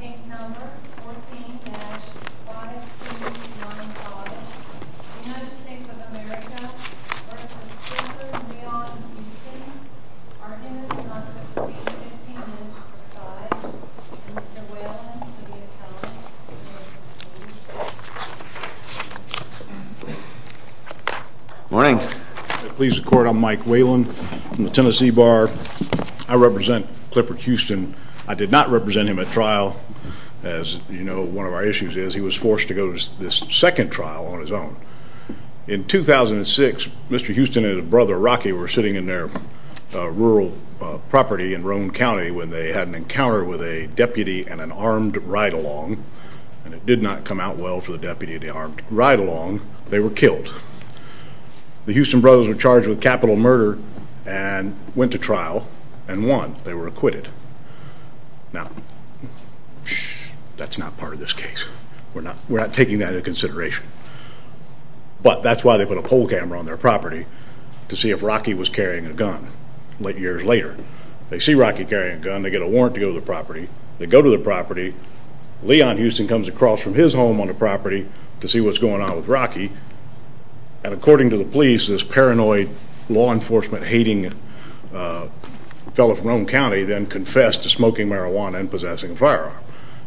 Take number 14-5295, United States of America v. Clifford Leon Houston, argument number 315-5, and Mr. Whelan to the accountant. Morning. Please record I'm Mike Whelan from the Tennessee Bar. I represent Clifford Houston. I did not represent him at trial. As you know, one of our issues is he was forced to go to this second trial on his own. In 2006, Mr. Houston and his brother Rocky were sitting in their rural property in Roan County when they had an encounter with a deputy and an armed ride-along. And it did not come out well for the deputy and the armed ride-along. They were killed. The Houston brothers were charged with capital murder and went to trial and won. They were acquitted. Now, that's not part of this case. We're not taking that into consideration. But that's why they put a poll camera on their property to see if Rocky was carrying a gun years later. They see Rocky carrying a gun. They get a warrant to go to the property. They go to the property. Leon Houston comes across from his home on the property to see what's going on with Rocky. And according to the police, this paranoid, law enforcement-hating fellow from Roan County then confessed to smoking marijuana and possessing a firearm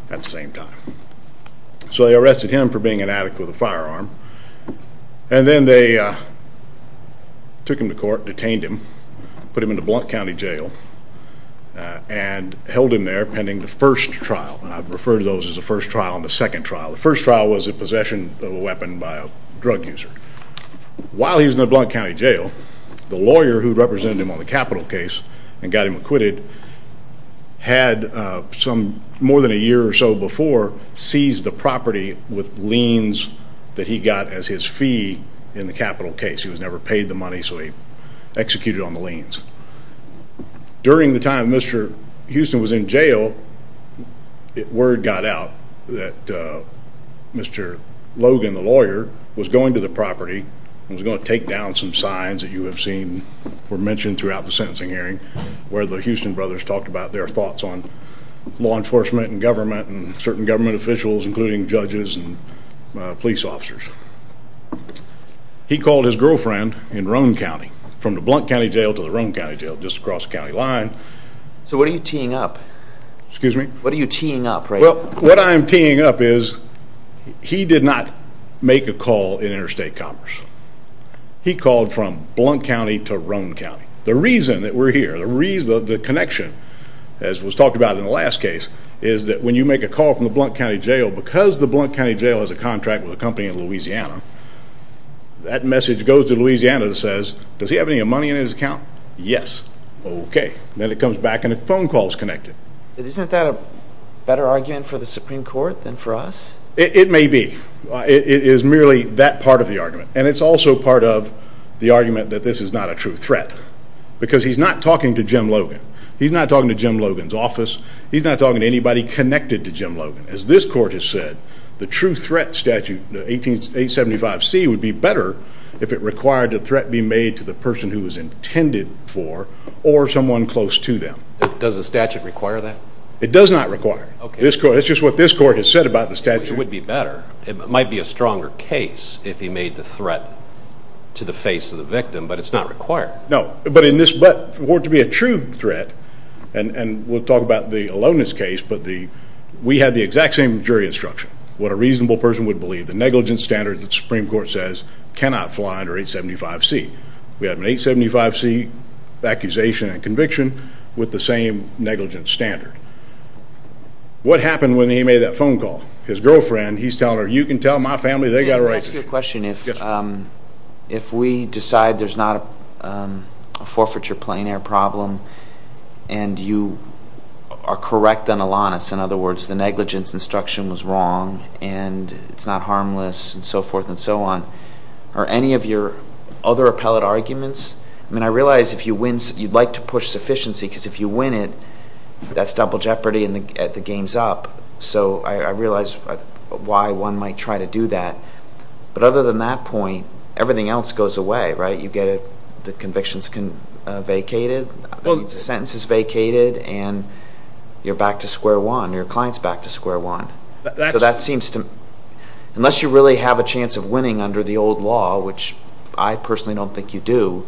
at the same time. So they arrested him for being an addict with a firearm. And then they took him to court, detained him, put him into Blount County Jail and held him there pending the first trial. And I've referred to those as the first trial and the second trial. The first trial was a possession of a weapon by a drug user. While he was in the Blount County Jail, the lawyer who represented him on the capital case and got him acquitted, had some more than a year or so before seized the property with liens that he got as his fee in the capital case. He was never paid the money, so he executed on the liens. During the time Mr. Houston was in jail, word got out that Mr. Logan, the lawyer, was going to the property and was going to take down some signs that you have seen were mentioned throughout the sentencing hearing where the Houston brothers talked about their thoughts on law enforcement and government and certain government officials including judges and police officers. He called his girlfriend in Roane County, from the Blount County Jail to the Roane County Jail, just across the county line. So what are you teeing up? Excuse me? What are you teeing up right now? Well, what I am teeing up is he did not make a call in Interstate Commerce. He called from Blount County to Roane County. The reason that we're here, the connection, as was talked about in the last case, is that when you make a call from the Blount County Jail, because the Blount County Jail has a contract with a company in Louisiana, that message goes to Louisiana and says, does he have any money in his account? Yes. Okay. Then it comes back and the phone call is connected. Isn't that a better argument for the Supreme Court than for us? It may be. It is merely that part of the argument. And it's also part of the argument that this is not a true threat. Because he's not talking to Jim Logan. He's not talking to Jim Logan's office. He's not talking to anybody connected to Jim Logan. As this court has said, the true threat statute, the 1875C, would be better if it required a threat be made to the person who it was intended for or someone close to them. Does the statute require that? It does not require. Okay. That's just what this court has said about the statute. It would be better. It might be a stronger case if he made the threat to the face of the victim, but it's not required. No. But for it to be a true threat, and we'll talk about the aloneness case, but we had the exact same jury instruction. What a reasonable person would believe, the negligence standard that the Supreme Court says cannot fly under 1875C. We have an 1875C accusation and conviction with the same negligence standard. What happened when he made that phone call? His girlfriend, he's telling her, you can tell my family they've got a right to choose. Let me ask you a question. If we decide there's not a forfeiture plain air problem and you are correct on aloneness, in other words, the negligence instruction was wrong and it's not harmless and so forth and so on, are any of your other appellate arguments? I mean, I realize if you win, you'd like to push sufficiency because if you win it, that's double jeopardy and the game's up. So I realize why one might try to do that. But other than that point, everything else goes away, right? You get the convictions vacated, the sentences vacated, and you're back to square one. Your client's back to square one. So that seems to me, unless you really have a chance of winning under the old law, which I personally don't think you do,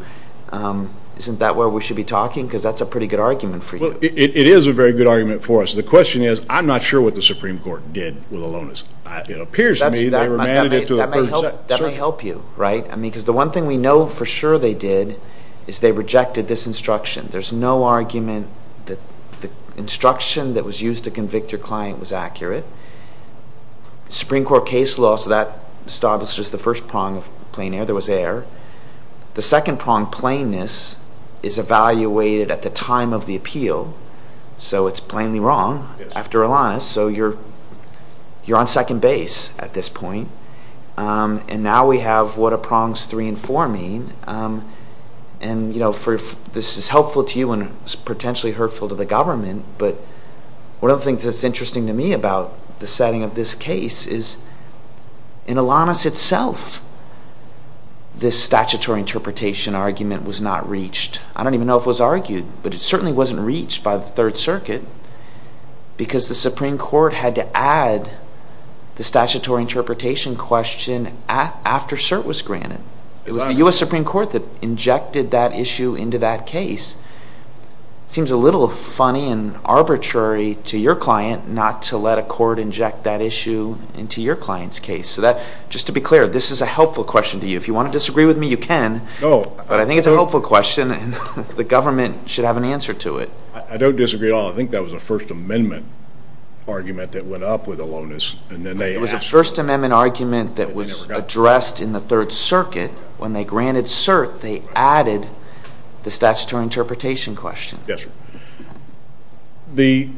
isn't that where we should be talking because that's a pretty good argument for you? It is a very good argument for us. The question is, I'm not sure what the Supreme Court did with aloneness. It appears to me they remanded it to a person. That may help you, right? I mean, because the one thing we know for sure they did is they rejected this instruction. There's no argument that the instruction that was used to convict your client was accurate. Supreme Court case law, so that establishes the first prong of plain air. There was air. The second prong, plainness, is evaluated at the time of the appeal. So it's plainly wrong after aloneness. So you're on second base at this point. And now we have what are prongs three and four mean. And, you know, this is helpful to you and potentially hurtful to the government. But one of the things that's interesting to me about the setting of this case is, in aloneness itself, this statutory interpretation argument was not reached. I don't even know if it was argued, but it certainly wasn't reached by the Third Circuit because the Supreme Court had to add the statutory interpretation question after cert was granted. It was the U.S. Supreme Court that injected that issue into that case. It seems a little funny and arbitrary to your client not to let a court inject that issue into your client's case. So just to be clear, this is a helpful question to you. If you want to disagree with me, you can. But I think it's a helpful question, and the government should have an answer to it. I don't disagree at all. I think that was a First Amendment argument that went up with aloneness, and then they asked. It was a First Amendment argument that was addressed in the Third Circuit. When they granted cert, they added the statutory interpretation question. Yes, sir. The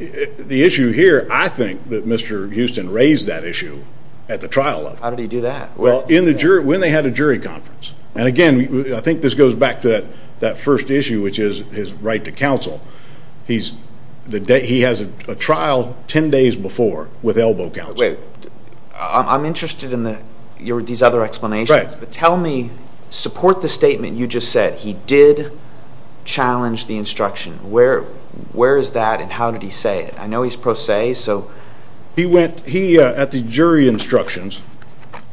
issue here, I think that Mr. Houston raised that issue at the trial level. How did he do that? Well, when they had a jury conference. And again, I think this goes back to that first issue, which is his right to counsel. He has a trial 10 days before with elbow counsel. Wait. I'm interested in these other explanations. But tell me, support the statement you just said. He did challenge the instruction. Where is that, and how did he say it? I know he's pro se, so. He went, at the jury instructions,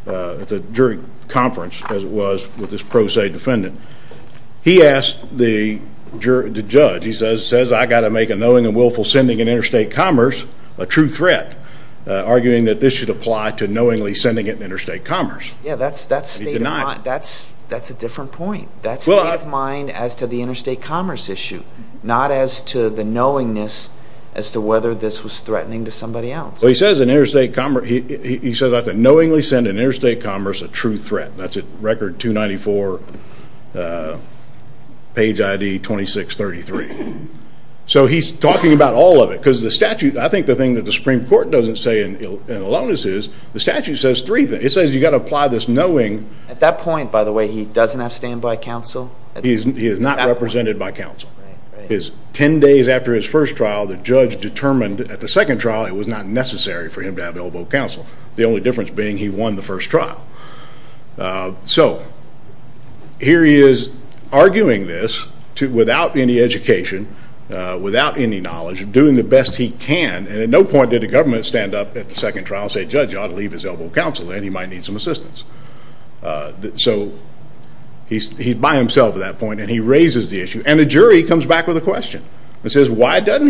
at the jury conference, as it was with his pro se defendant, he asked the judge, he says, I've got to make a knowing and willful sending in interstate commerce a true threat, arguing that this should apply to knowingly sending it in interstate commerce. Yeah, that's a different point. That's state of mind as to the interstate commerce issue, not as to the knowingness as to whether this was threatening to somebody else. Well, he says that's a knowingly sending interstate commerce a true threat. That's at record 294, page ID 2633. So he's talking about all of it. Because the statute, I think the thing that the Supreme Court doesn't say in aloneness is, the statute says three things. It says you've got to apply this knowing. At that point, by the way, he doesn't have standby counsel? He is not represented by counsel. Ten days after his first trial, the judge determined at the second trial it was not necessary for him to have elbow counsel. The only difference being he won the first trial. So here he is arguing this without any education, without any knowledge, doing the best he can, and at no point did the government stand up at the second trial and say, Judge, you ought to leave his elbow counsel in. He might need some assistance. So he's by himself at that point, and he raises the issue. And the jury comes back with a question. It says why doesn't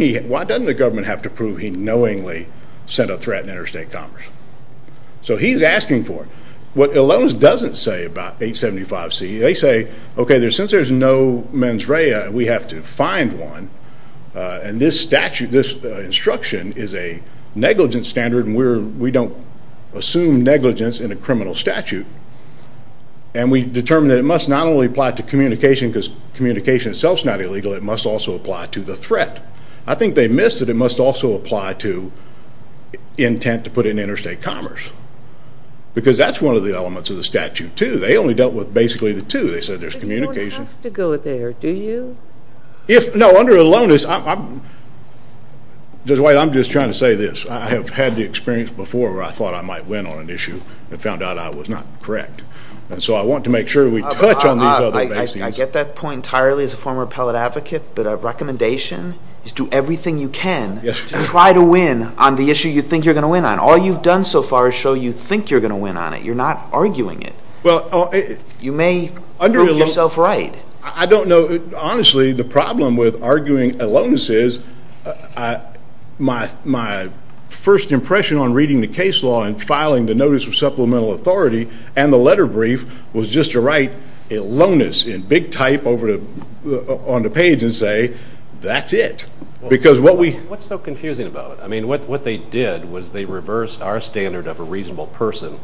the government have to prove he knowingly sent a threat in interstate commerce? So he's asking for it. What aloneness doesn't say about 875C, they say, okay, since there's no mens rea, we have to find one, and this instruction is a negligent standard and we don't assume negligence in a criminal statute, and we determine that it must not only apply to communication because communication itself is not illegal, it must also apply to the threat. I think they missed that it must also apply to intent to put in interstate commerce because that's one of the elements of the statute too. They only dealt with basically the two. They said there's communication. But you don't have to go there, do you? No, under aloneness, Judge White, I'm just trying to say this. I have had the experience before where I thought I might win on an issue and found out I was not correct. And so I want to make sure we touch on these other bases. I get that point entirely as a former appellate advocate, but a recommendation is do everything you can to try to win on the issue you think you're going to win on. All you've done so far is show you think you're going to win on it. You're not arguing it. You may prove yourself right. I don't know. Honestly, the problem with arguing aloneness is my first impression on reading the case law and filing the notice of supplemental authority and the letter brief was just to write aloneness in big type on the page and say that's it. What's so confusing about it? What they did was they reversed our standard of a reasonable person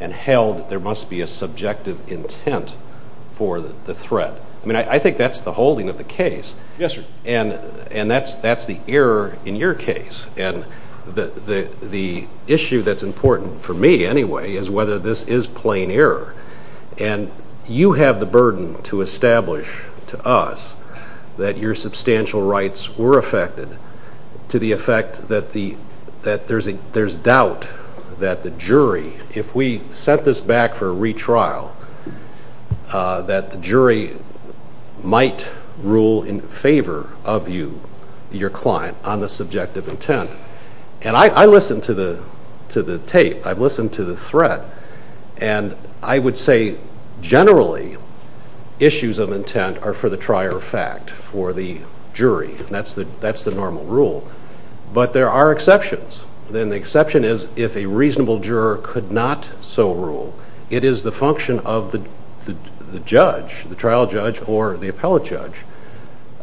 and held there must be a subjective intent for the threat. I think that's the holding of the case. Yes, sir. And that's the error in your case. And the issue that's important for me anyway is whether this is plain error. And you have the burden to establish to us that your substantial rights were affected to the effect that there's doubt that the jury, if we set this back for a retrial, that the jury might rule in favor of you, your client, on the subjective intent. And I listened to the tape. I've listened to the threat. And I would say generally issues of intent are for the trier of fact, for the jury. That's the normal rule. But there are exceptions. And the exception is if a reasonable juror could not so rule, it is the function of the judge, the trial judge or the appellate judge,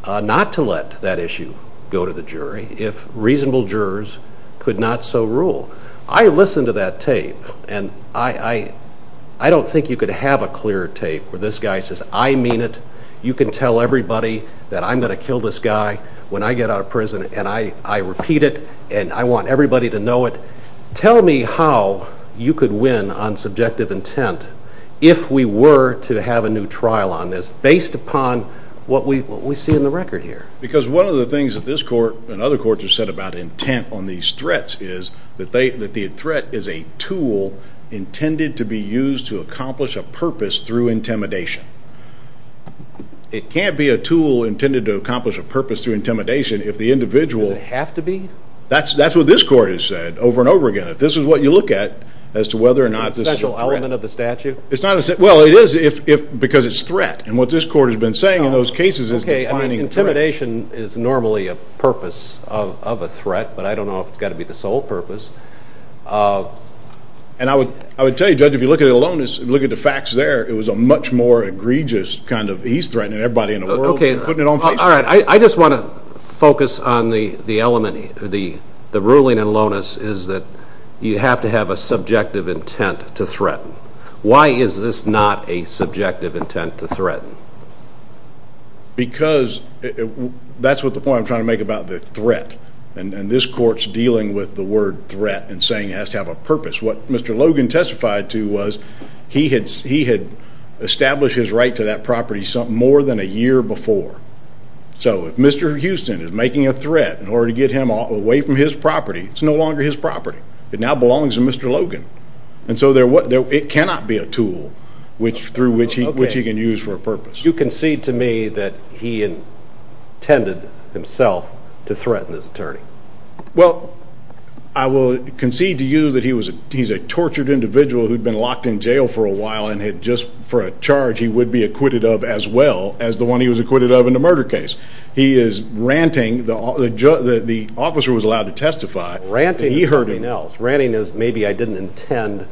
not to let that issue go to the jury if reasonable jurors could not so rule. I listened to that tape. And I don't think you could have a clear tape where this guy says I mean it, you can tell everybody that I'm going to kill this guy when I get out of prison and I repeat it and I want everybody to know it. Tell me how you could win on subjective intent if we were to have a new trial on this based upon what we see in the record here. Because one of the things that this court and other courts have said about intent on these threats is that the threat is a tool intended to be used to accomplish a purpose through intimidation. It can't be a tool intended to accomplish a purpose through intimidation if the individual Does it have to be? That's what this court has said over and over again. If this is what you look at as to whether or not this is a threat. Is it a special element of the statute? Well, it is because it's threat. And what this court has been saying in those cases is defining threat. Intimidation is normally a purpose of a threat, but I don't know if it's got to be the sole purpose. And I would tell you, Judge, if you look at it alone, if you look at the facts there, it was a much more egregious kind of he's threatening everybody in the world and putting it on Facebook. All right. I just want to focus on the element. The ruling in Lonis is that you have to have a subjective intent to threaten. Why is this not a subjective intent to threaten? Because that's what the point I'm trying to make about the threat. And this court's dealing with the word threat and saying it has to have a purpose. What Mr. Logan testified to was he had established his right to that property more than a year before. So if Mr. Houston is making a threat in order to get him away from his property, it's no longer his property. It now belongs to Mr. Logan. And so it cannot be a tool through which he can use for a purpose. You concede to me that he intended himself to threaten his attorney. Well, I will concede to you that he's a tortured individual who'd been locked in jail for a while and had just for a charge he would be acquitted of as well as the one he was acquitted of in the murder case. He is ranting. The officer was allowed to testify. Ranting is something else. Ranting is maybe I didn't intend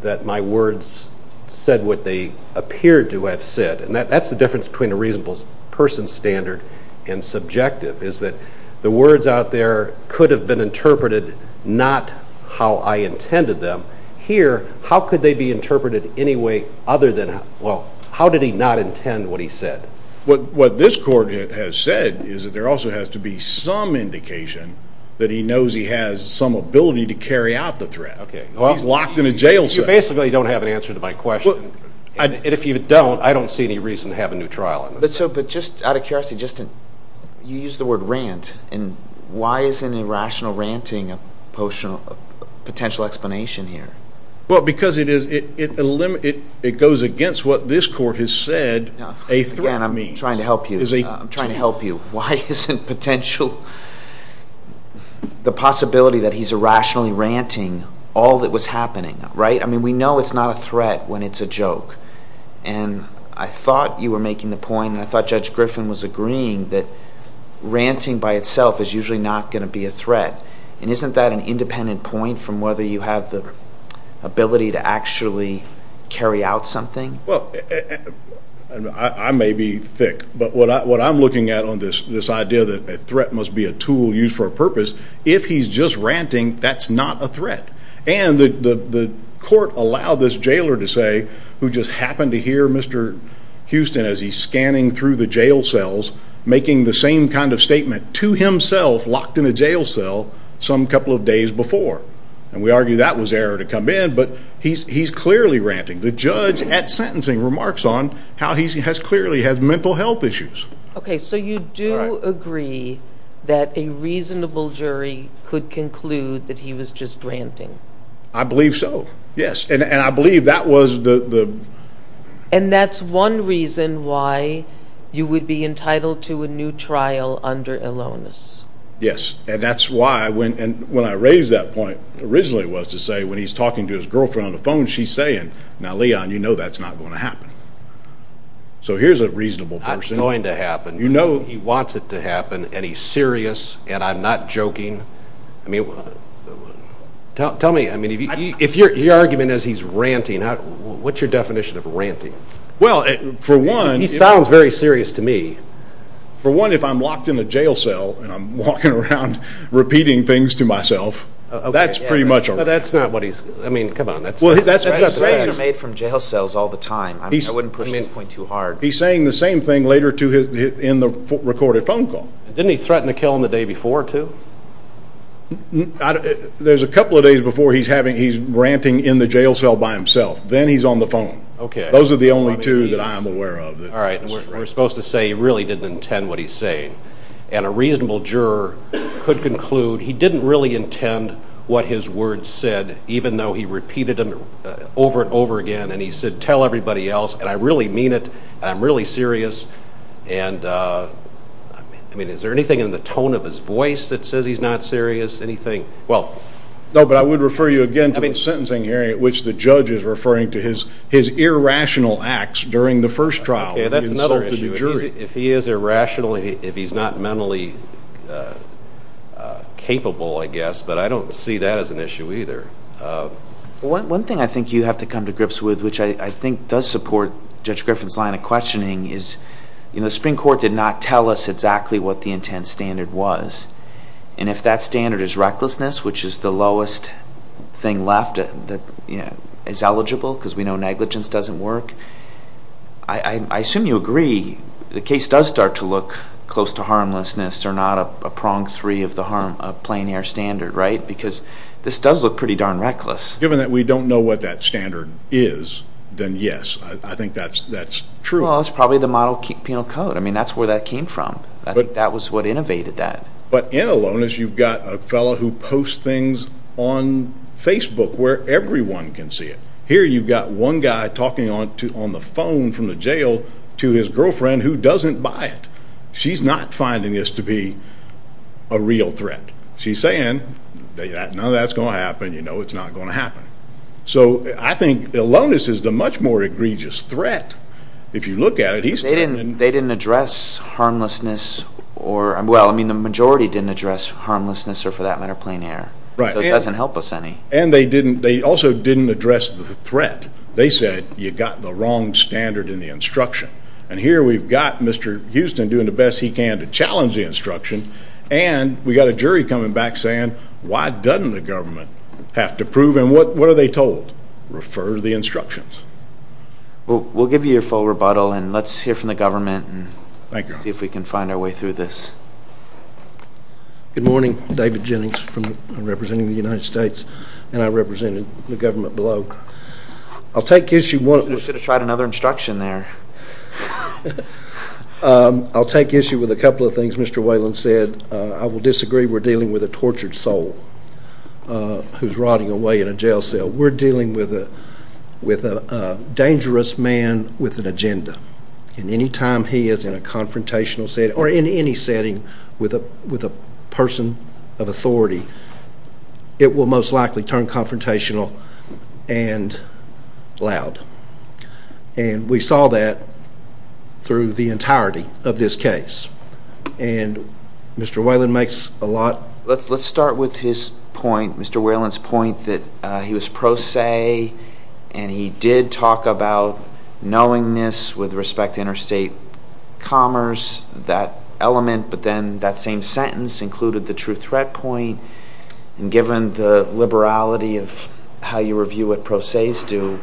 that my words said what they appeared to have said. And that's the difference between a reasonable person's standard and subjective, is that the words out there could have been interpreted not how I intended them. Here, how could they be interpreted anyway other than, well, how did he not intend what he said? What this court has said is that there also has to be some indication that he knows he has some ability to carry out the threat. He's locked in a jail cell. You basically don't have an answer to my question. And if you don't, I don't see any reason to have a new trial on this. But just out of curiosity, you used the word rant. And why is an irrational ranting a potential explanation here? Well, because it goes against what this court has said a threat means. Again, I'm trying to help you. I'm trying to help you. Why isn't potential the possibility that he's irrationally ranting all that was happening, right? I mean, we know it's not a threat when it's a joke. And I thought you were making the point, and I thought Judge Griffin was agreeing, that ranting by itself is usually not going to be a threat. And isn't that an independent point from whether you have the ability to actually carry out something? Well, I may be thick, but what I'm looking at on this idea that a threat must be a tool used for a purpose, if he's just ranting, that's not a threat. And the court allowed this jailer to say, who just happened to hear Mr. Houston as he's scanning through the jail cells, making the same kind of statement to himself locked in a jail cell some couple of days before. And we argue that was error to come in, but he's clearly ranting. The judge at sentencing remarks on how he clearly has mental health issues. Okay, so you do agree that a reasonable jury could conclude that he was just ranting? I believe so, yes. And I believe that was the... And that's one reason why you would be entitled to a new trial under Elonis. Yes, and that's why when I raised that point, originally it was to say when he's talking to his girlfriend on the phone, she's saying, now Leon, you know that's not going to happen. So here's a reasonable person. It's not going to happen. You know... He wants it to happen, and he's serious, and I'm not joking. I mean, tell me, if your argument is he's ranting, what's your definition of ranting? Well, for one... He sounds very serious to me. For one, if I'm locked in a jail cell and I'm walking around repeating things to myself, that's pretty much all right. That's not what he's, I mean, come on. Well, that's not the case. Rants are made from jail cells all the time. I wouldn't push this point too hard. He's saying the same thing later in the recorded phone call. Didn't he threaten to kill him the day before, too? There's a couple of days before he's ranting in the jail cell by himself. Then he's on the phone. Okay. Those are the only two that I'm aware of. All right. We're supposed to say he really didn't intend what he's saying. And a reasonable juror could conclude he didn't really intend what his words said, even though he repeated them over and over again. And he said, tell everybody else, and I really mean it, and I'm really serious. And, I mean, is there anything in the tone of his voice that says he's not serious? Anything? No, but I would refer you again to the sentencing hearing, at which the judge is referring to his irrational acts during the first trial. Okay, that's another issue. If he is irrational, if he's not mentally capable, I guess, but I don't see that as an issue either. One thing I think you have to come to grips with, which I think does support Judge Griffin's line of questioning, is the Supreme Court did not tell us exactly what the intent standard was. And if that standard is recklessness, which is the lowest thing left that is eligible because we know negligence doesn't work, I assume you agree the case does start to look close to harmlessness or not a prong three of the harm, a plein air standard, right? Because this does look pretty darn reckless. Given that we don't know what that standard is, then yes, I think that's true. Well, it's probably the model penal code. I mean, that's where that came from. I think that was what innovated that. But in aloneness, you've got a fellow who posts things on Facebook where everyone can see it. Here you've got one guy talking on the phone from the jail to his girlfriend who doesn't buy it. She's not finding this to be a real threat. She's saying none of that's going to happen. You know it's not going to happen. So I think aloneness is the much more egregious threat if you look at it. They didn't address harmlessness or, well, I mean the majority didn't address harmlessness or for that matter plein air. Right. So it doesn't help us any. And they also didn't address the threat. They said you've got the wrong standard in the instruction. And here we've got Mr. Houston doing the best he can to challenge the instruction, and we've got a jury coming back saying why doesn't the government have to prove and what are they told? Refer to the instructions. We'll give you your full rebuttal, and let's hear from the government and see if we can find our way through this. Good morning. David Jennings representing the United States, and I represented the government below. I'll take issue with a couple of things Mr. Whelan said. I will disagree we're dealing with a tortured soul who's rotting away in a jail cell. We're dealing with a dangerous man with an agenda, and any time he is in a confrontational setting or in any setting with a person of authority, it will most likely turn confrontational and loud. And we saw that through the entirety of this case. And Mr. Whelan makes a lot. Let's start with his point, Mr. Whelan's point that he was pro se, and he did talk about knowingness with respect to interstate commerce, that element, but then that same sentence included the true threat point. And given the liberality of how you review what pro ses do,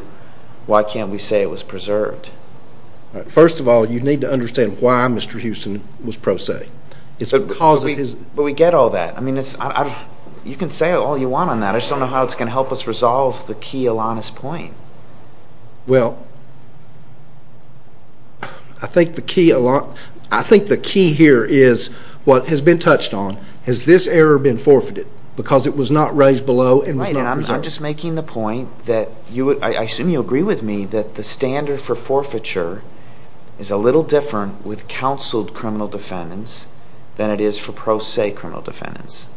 why can't we say it was preserved? First of all, you need to understand why Mr. Houston was pro se. But we get all that. I mean, you can say all you want on that. I just don't know how it's going to help us resolve the key Alanis point. Well, I think the key here is what has been touched on. Has this error been forfeited because it was not raised below and was not preserved? I'm just making the point that I assume you agree with me that the standard for forfeiture is a little different with counseled criminal defendants than it is for pro se criminal defendants.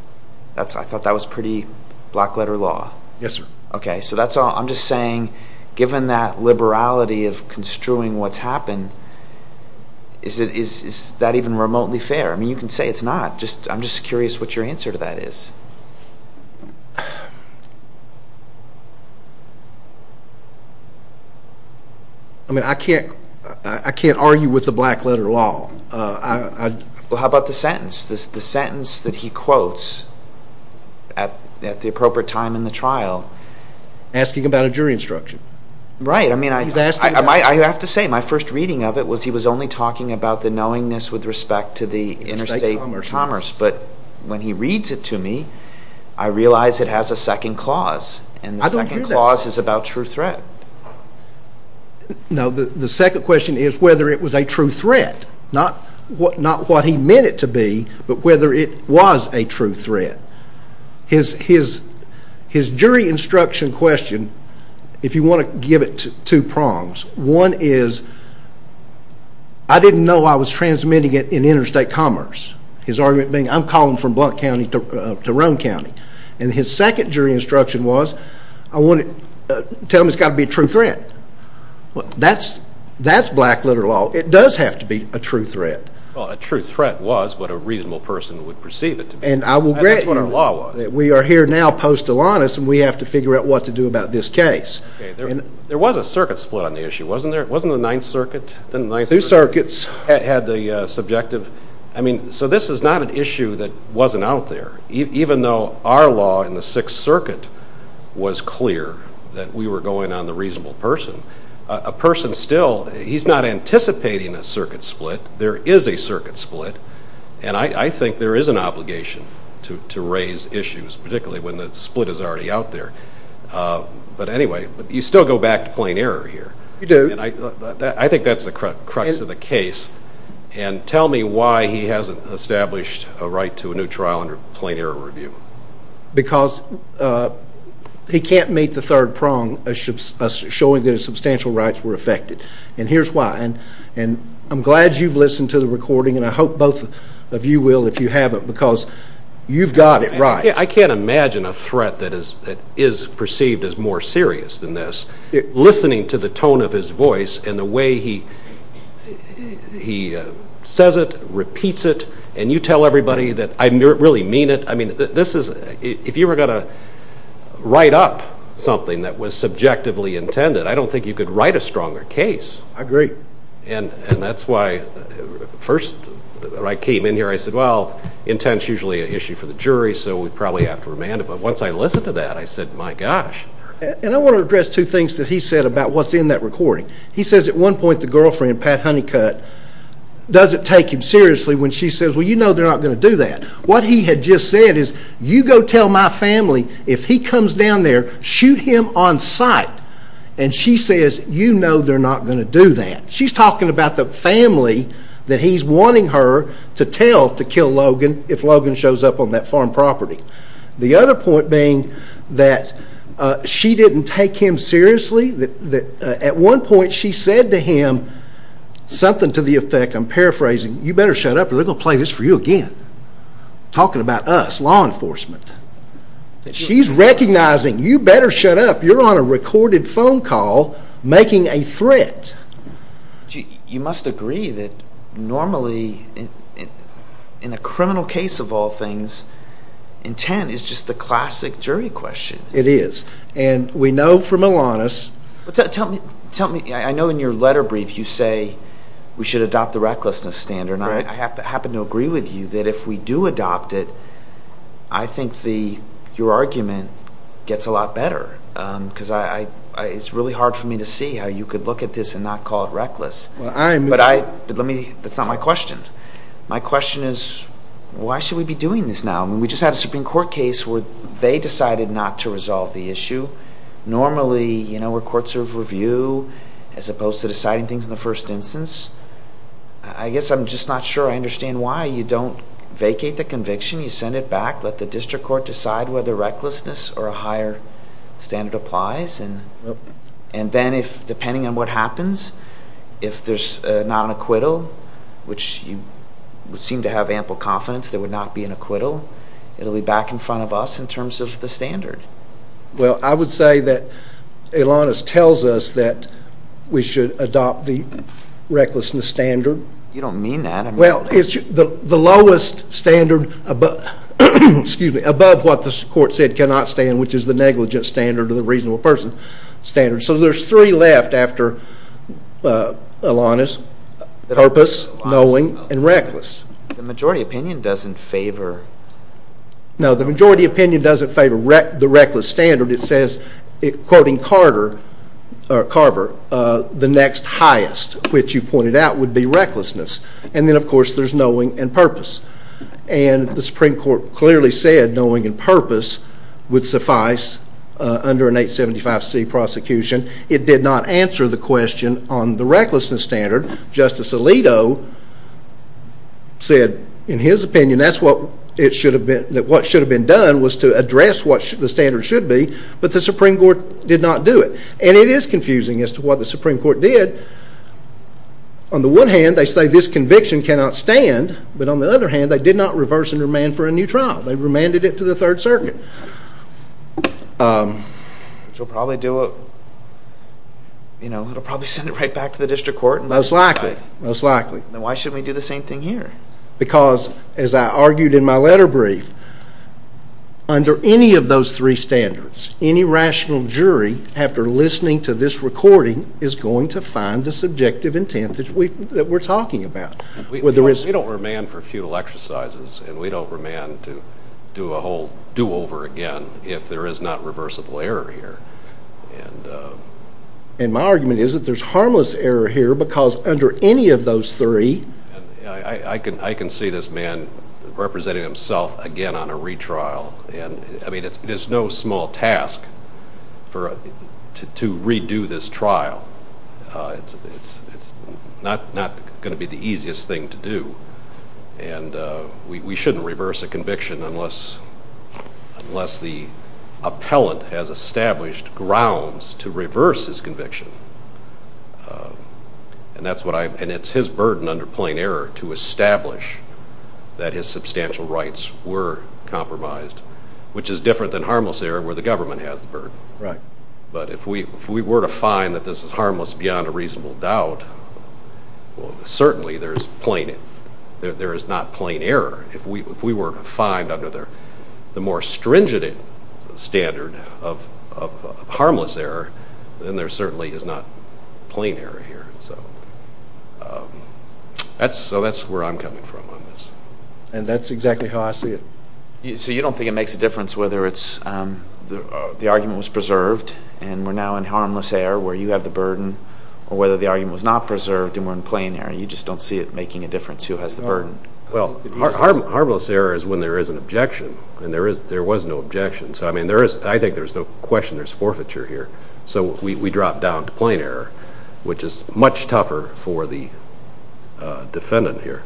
I thought that was pretty block letter law. Yes, sir. Okay, so that's all. I'm just saying given that liberality of construing what's happened, is that even remotely fair? I mean, you can say it's not. I'm just curious what your answer to that is. I mean, I can't argue with the black letter law. Well, how about the sentence? The sentence that he quotes at the appropriate time in the trial. Asking about a jury instruction. Right. I mean, I have to say my first reading of it was he was only talking about the knowingness with respect to the interstate commerce. But when he reads it to me, I realize it has a second clause. I don't hear that. And the second clause is about true threat. No, the second question is whether it was a true threat. Not what he meant it to be, but whether it was a true threat. His jury instruction question, if you want to give it two prongs, one is, I didn't know I was transmitting it in interstate commerce. His argument being, I'm calling from Blount County to Roan County. And his second jury instruction was, tell him it's got to be a true threat. That's black letter law. It does have to be a true threat. Well, a true threat was what a reasonable person would perceive it to be. And that's what our law was. We are here now post-Alanis, and we have to figure out what to do about this case. There was a circuit split on the issue, wasn't there? Wasn't the Ninth Circuit? Two circuits. Had the subjective. I mean, so this is not an issue that wasn't out there, even though our law in the Sixth Circuit was clear that we were going on the reasonable person. A person still, he's not anticipating a circuit split. There is a circuit split. And I think there is an obligation to raise issues, particularly when the split is already out there. But anyway, you still go back to plain error here. You do. I think that's the crux of the case. And tell me why he hasn't established a right to a new trial under plain error review. Because he can't meet the third prong of showing that his substantial rights were affected. And here's why. And I'm glad you've listened to the recording, and I hope both of you will if you haven't, because you've got it right. I can't imagine a threat that is perceived as more serious than this. Listening to the tone of his voice and the way he says it, repeats it, and you tell everybody that I really mean it. I mean, if you were going to write up something that was subjectively intended, I don't think you could write a stronger case. I agree. And that's why first when I came in here I said, well, intent's usually an issue for the jury, so we'd probably have to remand it. But once I listened to that, I said, my gosh. And I want to address two things that he said about what's in that recording. He says at one point the girlfriend, Pat Honeycutt, doesn't take him seriously when she says, well, you know they're not going to do that. What he had just said is, you go tell my family. If he comes down there, shoot him on sight. And she says, you know they're not going to do that. She's talking about the family that he's wanting her to tell to kill Logan if Logan shows up on that farm property. The other point being that she didn't take him seriously. At one point she said to him something to the effect, I'm paraphrasing, you better shut up or they're going to play this for you again. Talking about us, law enforcement. She's recognizing you better shut up. You're on a recorded phone call making a threat. You must agree that normally in a criminal case of all things, intent is just the classic jury question. It is. And we know from Elanis. Tell me, I know in your letter brief you say we should adopt the recklessness standard. I happen to agree with you that if we do adopt it, I think your argument gets a lot better. Because it's really hard for me to see how you could look at this and not call it reckless. But that's not my question. My question is why should we be doing this now? We just had a Supreme Court case where they decided not to resolve the issue. Normally we're courts of review as opposed to deciding things in the first instance. I guess I'm just not sure I understand why you don't vacate the conviction, you send it back, let the district court decide whether recklessness or a higher standard applies, and then depending on what happens, if there's not an acquittal, which you seem to have ample confidence there would not be an acquittal, it will be back in front of us in terms of the standard. Well, I would say that Elanis tells us that we should adopt the recklessness standard. You don't mean that. Well, it's the lowest standard above what the court said cannot stand, which is the negligence standard or the reasonable person standard. So there's three left after Elanis, purpose, knowing, and reckless. The majority opinion doesn't favor. No, the majority opinion doesn't favor the reckless standard. It says, quoting Carver, the next highest, which you pointed out, would be recklessness. And then, of course, there's knowing and purpose. And the Supreme Court clearly said knowing and purpose would suffice under an 875C prosecution. It did not answer the question on the recklessness standard. Justice Alito said in his opinion that what should have been done was to address what the standard should be, but the Supreme Court did not do it. And it is confusing as to what the Supreme Court did. On the one hand, they say this conviction cannot stand, but on the other hand, they did not reverse and remand for a new trial. They remanded it to the Third Circuit. Which will probably send it right back to the district court. Most likely. Then why shouldn't we do the same thing here? Because, as I argued in my letter brief, under any of those three standards, any rational jury, after listening to this recording, is going to find the subjective intent that we're talking about. We don't remand for futile exercises. And we don't remand to do a whole do-over again if there is not reversible error here. And my argument is that there's harmless error here because under any of those three— I can see this man representing himself again on a retrial. I mean, it's no small task to redo this trial. It's not going to be the easiest thing to do. And we shouldn't reverse a conviction unless the appellant has established grounds to reverse his conviction. And it's his burden under plain error to establish that his substantial rights were compromised, which is different than harmless error where the government has the burden. Right. But if we were to find that this is harmless beyond a reasonable doubt, well, certainly there is not plain error. If we were to find under the more stringent standard of harmless error, then there certainly is not plain error here. So that's where I'm coming from on this. And that's exactly how I see it. So you don't think it makes a difference whether the argument was preserved and we're now in harmless error where you have the burden, or whether the argument was not preserved and we're in plain error. You just don't see it making a difference who has the burden. Well, harmless error is when there is an objection, and there was no objection. So, I mean, I think there's no question there's forfeiture here. So we drop down to plain error, which is much tougher for the defendant here.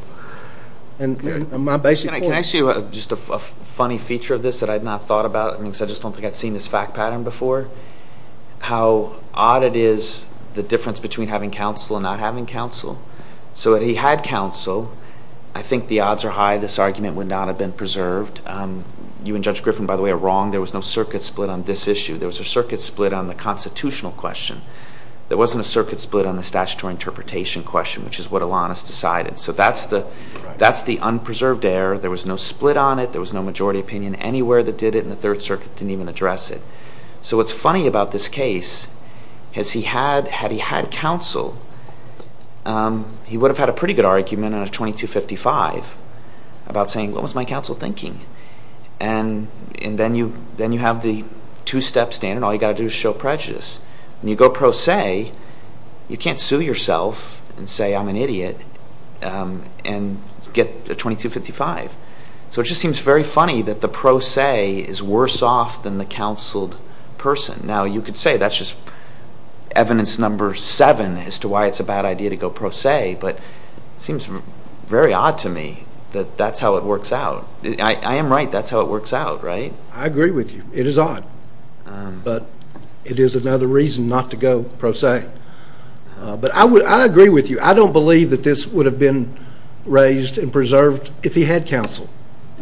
And my basic point. Can I ask you just a funny feature of this that I had not thought about? I mean, because I just don't think I'd seen this fact pattern before. How odd it is the difference between having counsel and not having counsel. So if he had counsel, I think the odds are high this argument would not have been preserved. You and Judge Griffin, by the way, are wrong. There was no circuit split on this issue. There was a circuit split on the constitutional question. There wasn't a circuit split on the statutory interpretation question, which is what Alanis decided. So that's the unpreserved error. There was no split on it. There was no majority opinion anywhere that did it, and the Third Circuit didn't even address it. So what's funny about this case is he had, had he had counsel, he would have had a pretty good argument on a 2255 about saying, what was my counsel thinking? And then you have the two-step standard. All you've got to do is show prejudice. When you go pro se, you can't sue yourself and say I'm an idiot and get a 2255. So it just seems very funny that the pro se is worse off than the counseled person. Now, you could say that's just evidence number seven as to why it's a bad idea to go pro se, but it seems very odd to me that that's how it works out. I am right. That's how it works out, right? I agree with you. It is odd. But it is another reason not to go pro se. But I agree with you. I don't believe that this would have been raised and preserved if he had counsel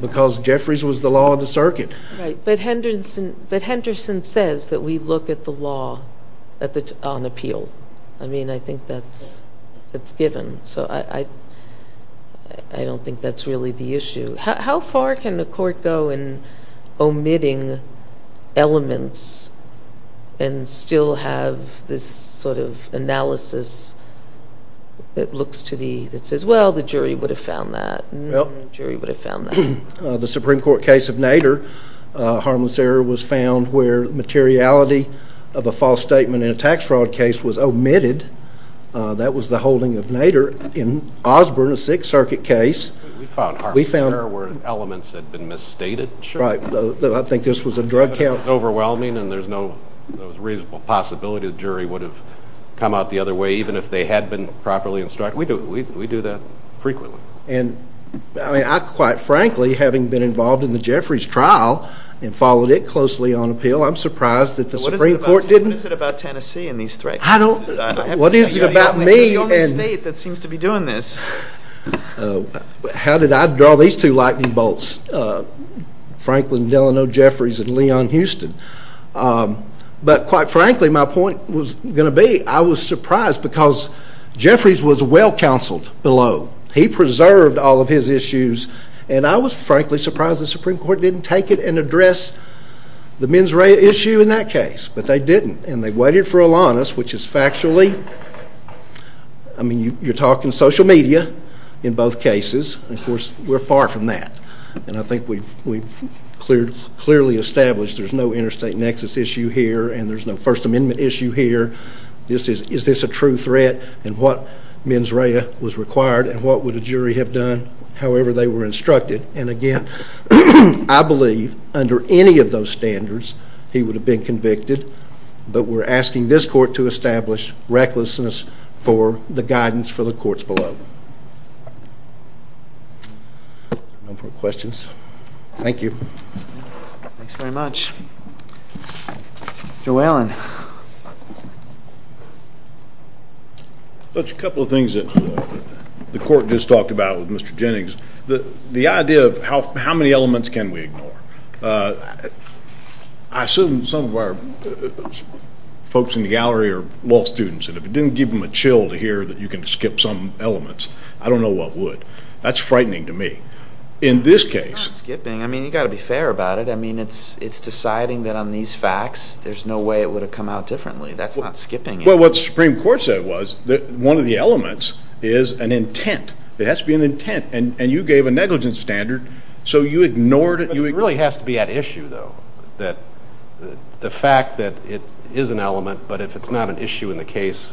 because Jeffries was the law of the circuit. Right. But Henderson says that we look at the law on appeal. I mean, I think that's given. So I don't think that's really the issue. How far can the court go in omitting elements and still have this sort of analysis that says, well, the jury would have found that and the jury would have found that? The Supreme Court case of Nader, harmless error was found where materiality of a false statement in a tax fraud case was omitted. That was the holding of Nader in Osborne, a Sixth Circuit case. We found harmless error where elements had been misstated. Right. I think this was a drug count. Overwhelming, and there's no reasonable possibility the jury would have come out the other way, even if they had been properly instructed. We do that frequently. And quite frankly, having been involved in the Jeffries trial and followed it closely on appeal, I'm surprised that the Supreme Court didn't. What is it about Tennessee and these threats? What is it about me? You're the only state that seems to be doing this. How did I draw these two lightning bolts, Franklin Delano Jeffries and Leon Houston? But quite frankly, my point was going to be, I was surprised because Jeffries was well counseled below. He preserved all of his issues, and I was frankly surprised the Supreme Court didn't take it and address the mens rea issue in that case, but they didn't. And they waited for Alanis, which is factually, I mean, you're talking social media in both cases. Of course, we're far from that, and I think we've clearly established there's no interstate nexus issue here, and there's no First Amendment issue here. Is this a true threat, and what mens rea was required, and what would a jury have done however they were instructed? And again, I believe under any of those standards, he would have been convicted, but we're asking this court to establish recklessness for the guidance for the courts below. No more questions? Thank you. Thanks very much. Mr. Whalen. Just a couple of things that the court just talked about with Mr. Jennings. The idea of how many elements can we ignore? I assume some of our folks in the gallery are law students, and if it didn't give them a chill to hear that you can skip some elements, I don't know what would. That's frightening to me. It's not skipping. I mean, you've got to be fair about it. I mean, it's deciding that on these facts, there's no way it would have come out differently. That's not skipping. Well, what the Supreme Court said was that one of the elements is an intent. It has to be an intent, and you gave a negligence standard, so you ignored it. But it really has to be at issue, though, that the fact that it is an element, but if it's not an issue in the case,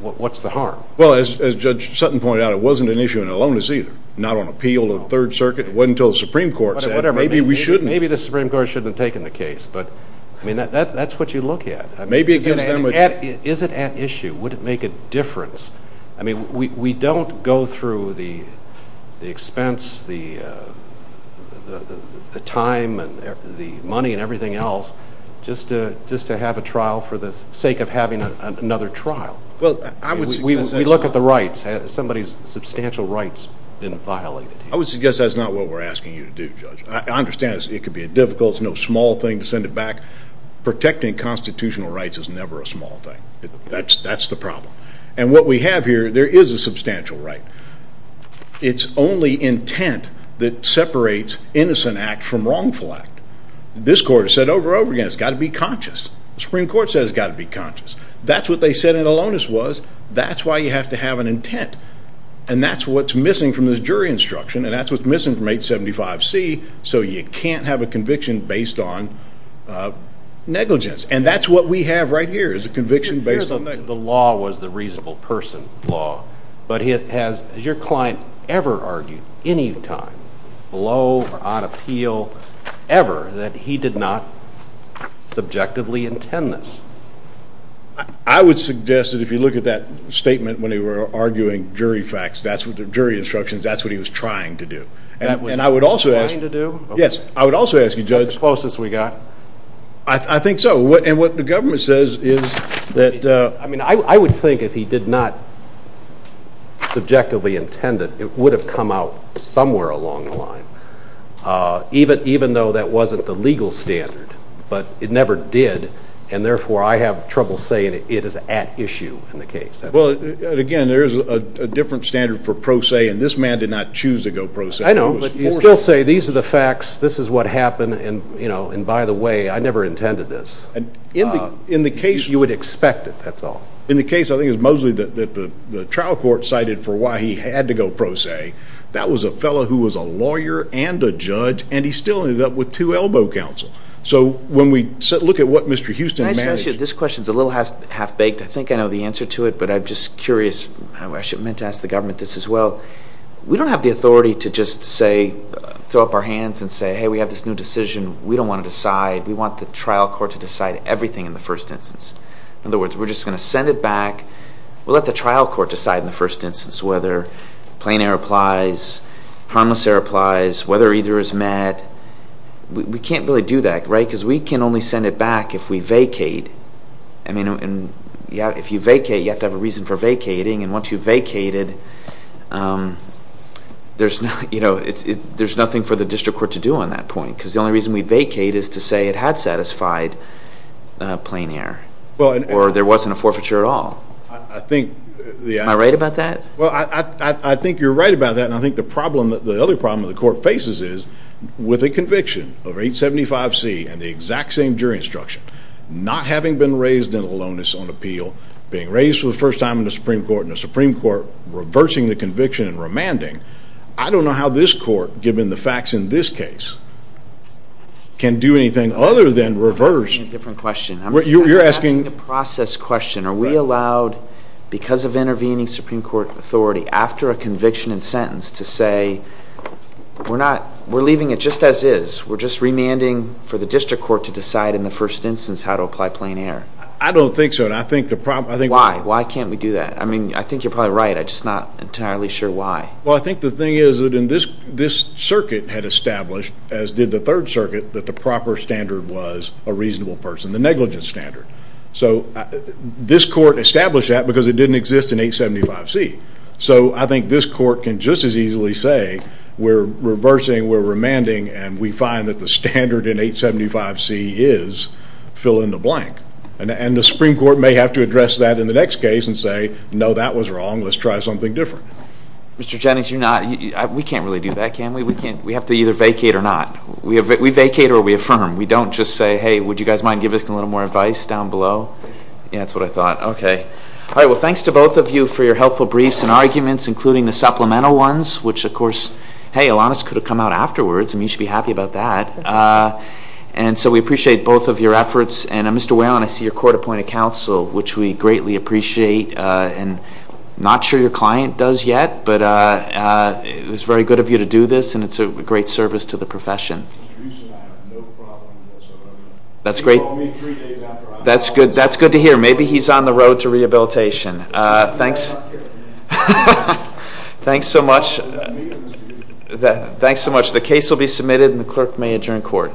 what's the harm? Well, as Judge Sutton pointed out, it wasn't an issue in Elonis either. Not on appeal to the Third Circuit. It wasn't until the Supreme Court said, maybe we shouldn't. Maybe the Supreme Court shouldn't have taken the case, but that's what you look at. Is it at issue? Would it make a difference? I mean, we don't go through the expense, the time, the money, and everything else just to have a trial for the sake of having another trial. We look at the rights. Has somebody's substantial rights been violated here? I would suggest that's not what we're asking you to do, Judge. I understand it could be a difficult, small thing to send it back. Protecting constitutional rights is never a small thing. That's the problem. And what we have here, there is a substantial right. It's only intent that separates innocent act from wrongful act. This Court has said over and over again, it's got to be conscious. The Supreme Court says it's got to be conscious. That's what they said in Elonis was, that's why you have to have an intent. And that's what's missing from this jury instruction, and that's what's missing from 875C, so you can't have a conviction based on negligence. And that's what we have right here, is a conviction based on negligence. The law was the reasonable person law, but has your client ever argued, any time, below or on appeal, ever, that he did not subjectively intend this? I would suggest that if you look at that statement when they were arguing jury facts, jury instructions, that's what he was trying to do. That's what he was trying to do? Yes, I would also ask you, Judge. That's the closest we got. I think so. And what the government says is that— I would think if he did not subjectively intend it, it would have come out somewhere along the line, even though that wasn't the legal standard. But it never did, and therefore I have trouble saying it is at issue in the case. Well, again, there is a different standard for pro se, and this man did not choose to go pro se. I know, but you still say these are the facts, this is what happened, and by the way, I never intended this. In the case— You would expect it, that's all. In the case, I think it was Mosley that the trial court cited for why he had to go pro se, that was a fellow who was a lawyer and a judge, and he still ended up with two elbow counsel. So when we look at what Mr. Houston managed— Can I just ask you, this question is a little half-baked. I think I know the answer to it, but I'm just curious. I meant to ask the government this as well. We don't have the authority to just say, throw up our hands and say, hey, we have this new decision, we don't want to decide. We want the trial court to decide everything in the first instance. In other words, we're just going to send it back. We'll let the trial court decide in the first instance whether plain error applies, harmless error applies, whether either is met. We can't really do that, right? Because we can only send it back if we vacate. I mean, if you vacate, you have to have a reason for vacating, and once you've vacated, there's nothing for the district court to do on that point because the only reason we vacate is to say it had satisfied plain error or there wasn't a forfeiture at all. Am I right about that? Well, I think you're right about that, and I think the other problem the court faces is with a conviction of 875C and the exact same jury instruction, not having been raised in aloneness on appeal, being raised for the first time in the Supreme Court, and the Supreme Court reversing the conviction and remanding, I don't know how this court, given the facts in this case, can do anything other than reverse. I'm asking a different question. You're asking? I'm asking a process question. Are we allowed, because of intervening Supreme Court authority, after a conviction and sentence to say, we're leaving it just as is, we're just remanding for the district court to decide in the first instance how to apply plain error? I don't think so. Why? Why can't we do that? I mean, I think you're probably right. I'm just not entirely sure why. Well, I think the thing is that this circuit had established, as did the Third Circuit, that the proper standard was a reasonable person, the negligence standard. So this court established that because it didn't exist in 875C. So I think this court can just as easily say, we're reversing, we're remanding, and we find that the standard in 875C is fill in the blank. And the Supreme Court may have to address that in the next case and say, no, that was wrong, let's try something different. Mr. Jennings, we can't really do that, can we? We have to either vacate or not. We vacate or we affirm. We don't just say, hey, would you guys mind giving us a little more advice down below? Yeah, that's what I thought. Okay. All right, well, thanks to both of you for your helpful briefs and arguments, including the supplemental ones, which, of course, hey, Alanis could have come out afterwards, and you should be happy about that. And so we appreciate both of your efforts. And, Mr. Whalen, I see you're court-appointed counsel, which we greatly appreciate. And I'm not sure your client does yet, but it was very good of you to do this, and it's a great service to the profession. Mr. Russo and I have no problem whatsoever. That's great. You can call me three days after I leave. That's good to hear. Maybe he's on the road to rehabilitation. I'm not here. Thanks so much. Thanks so much. The case will be submitted, and the clerk may adjourn court.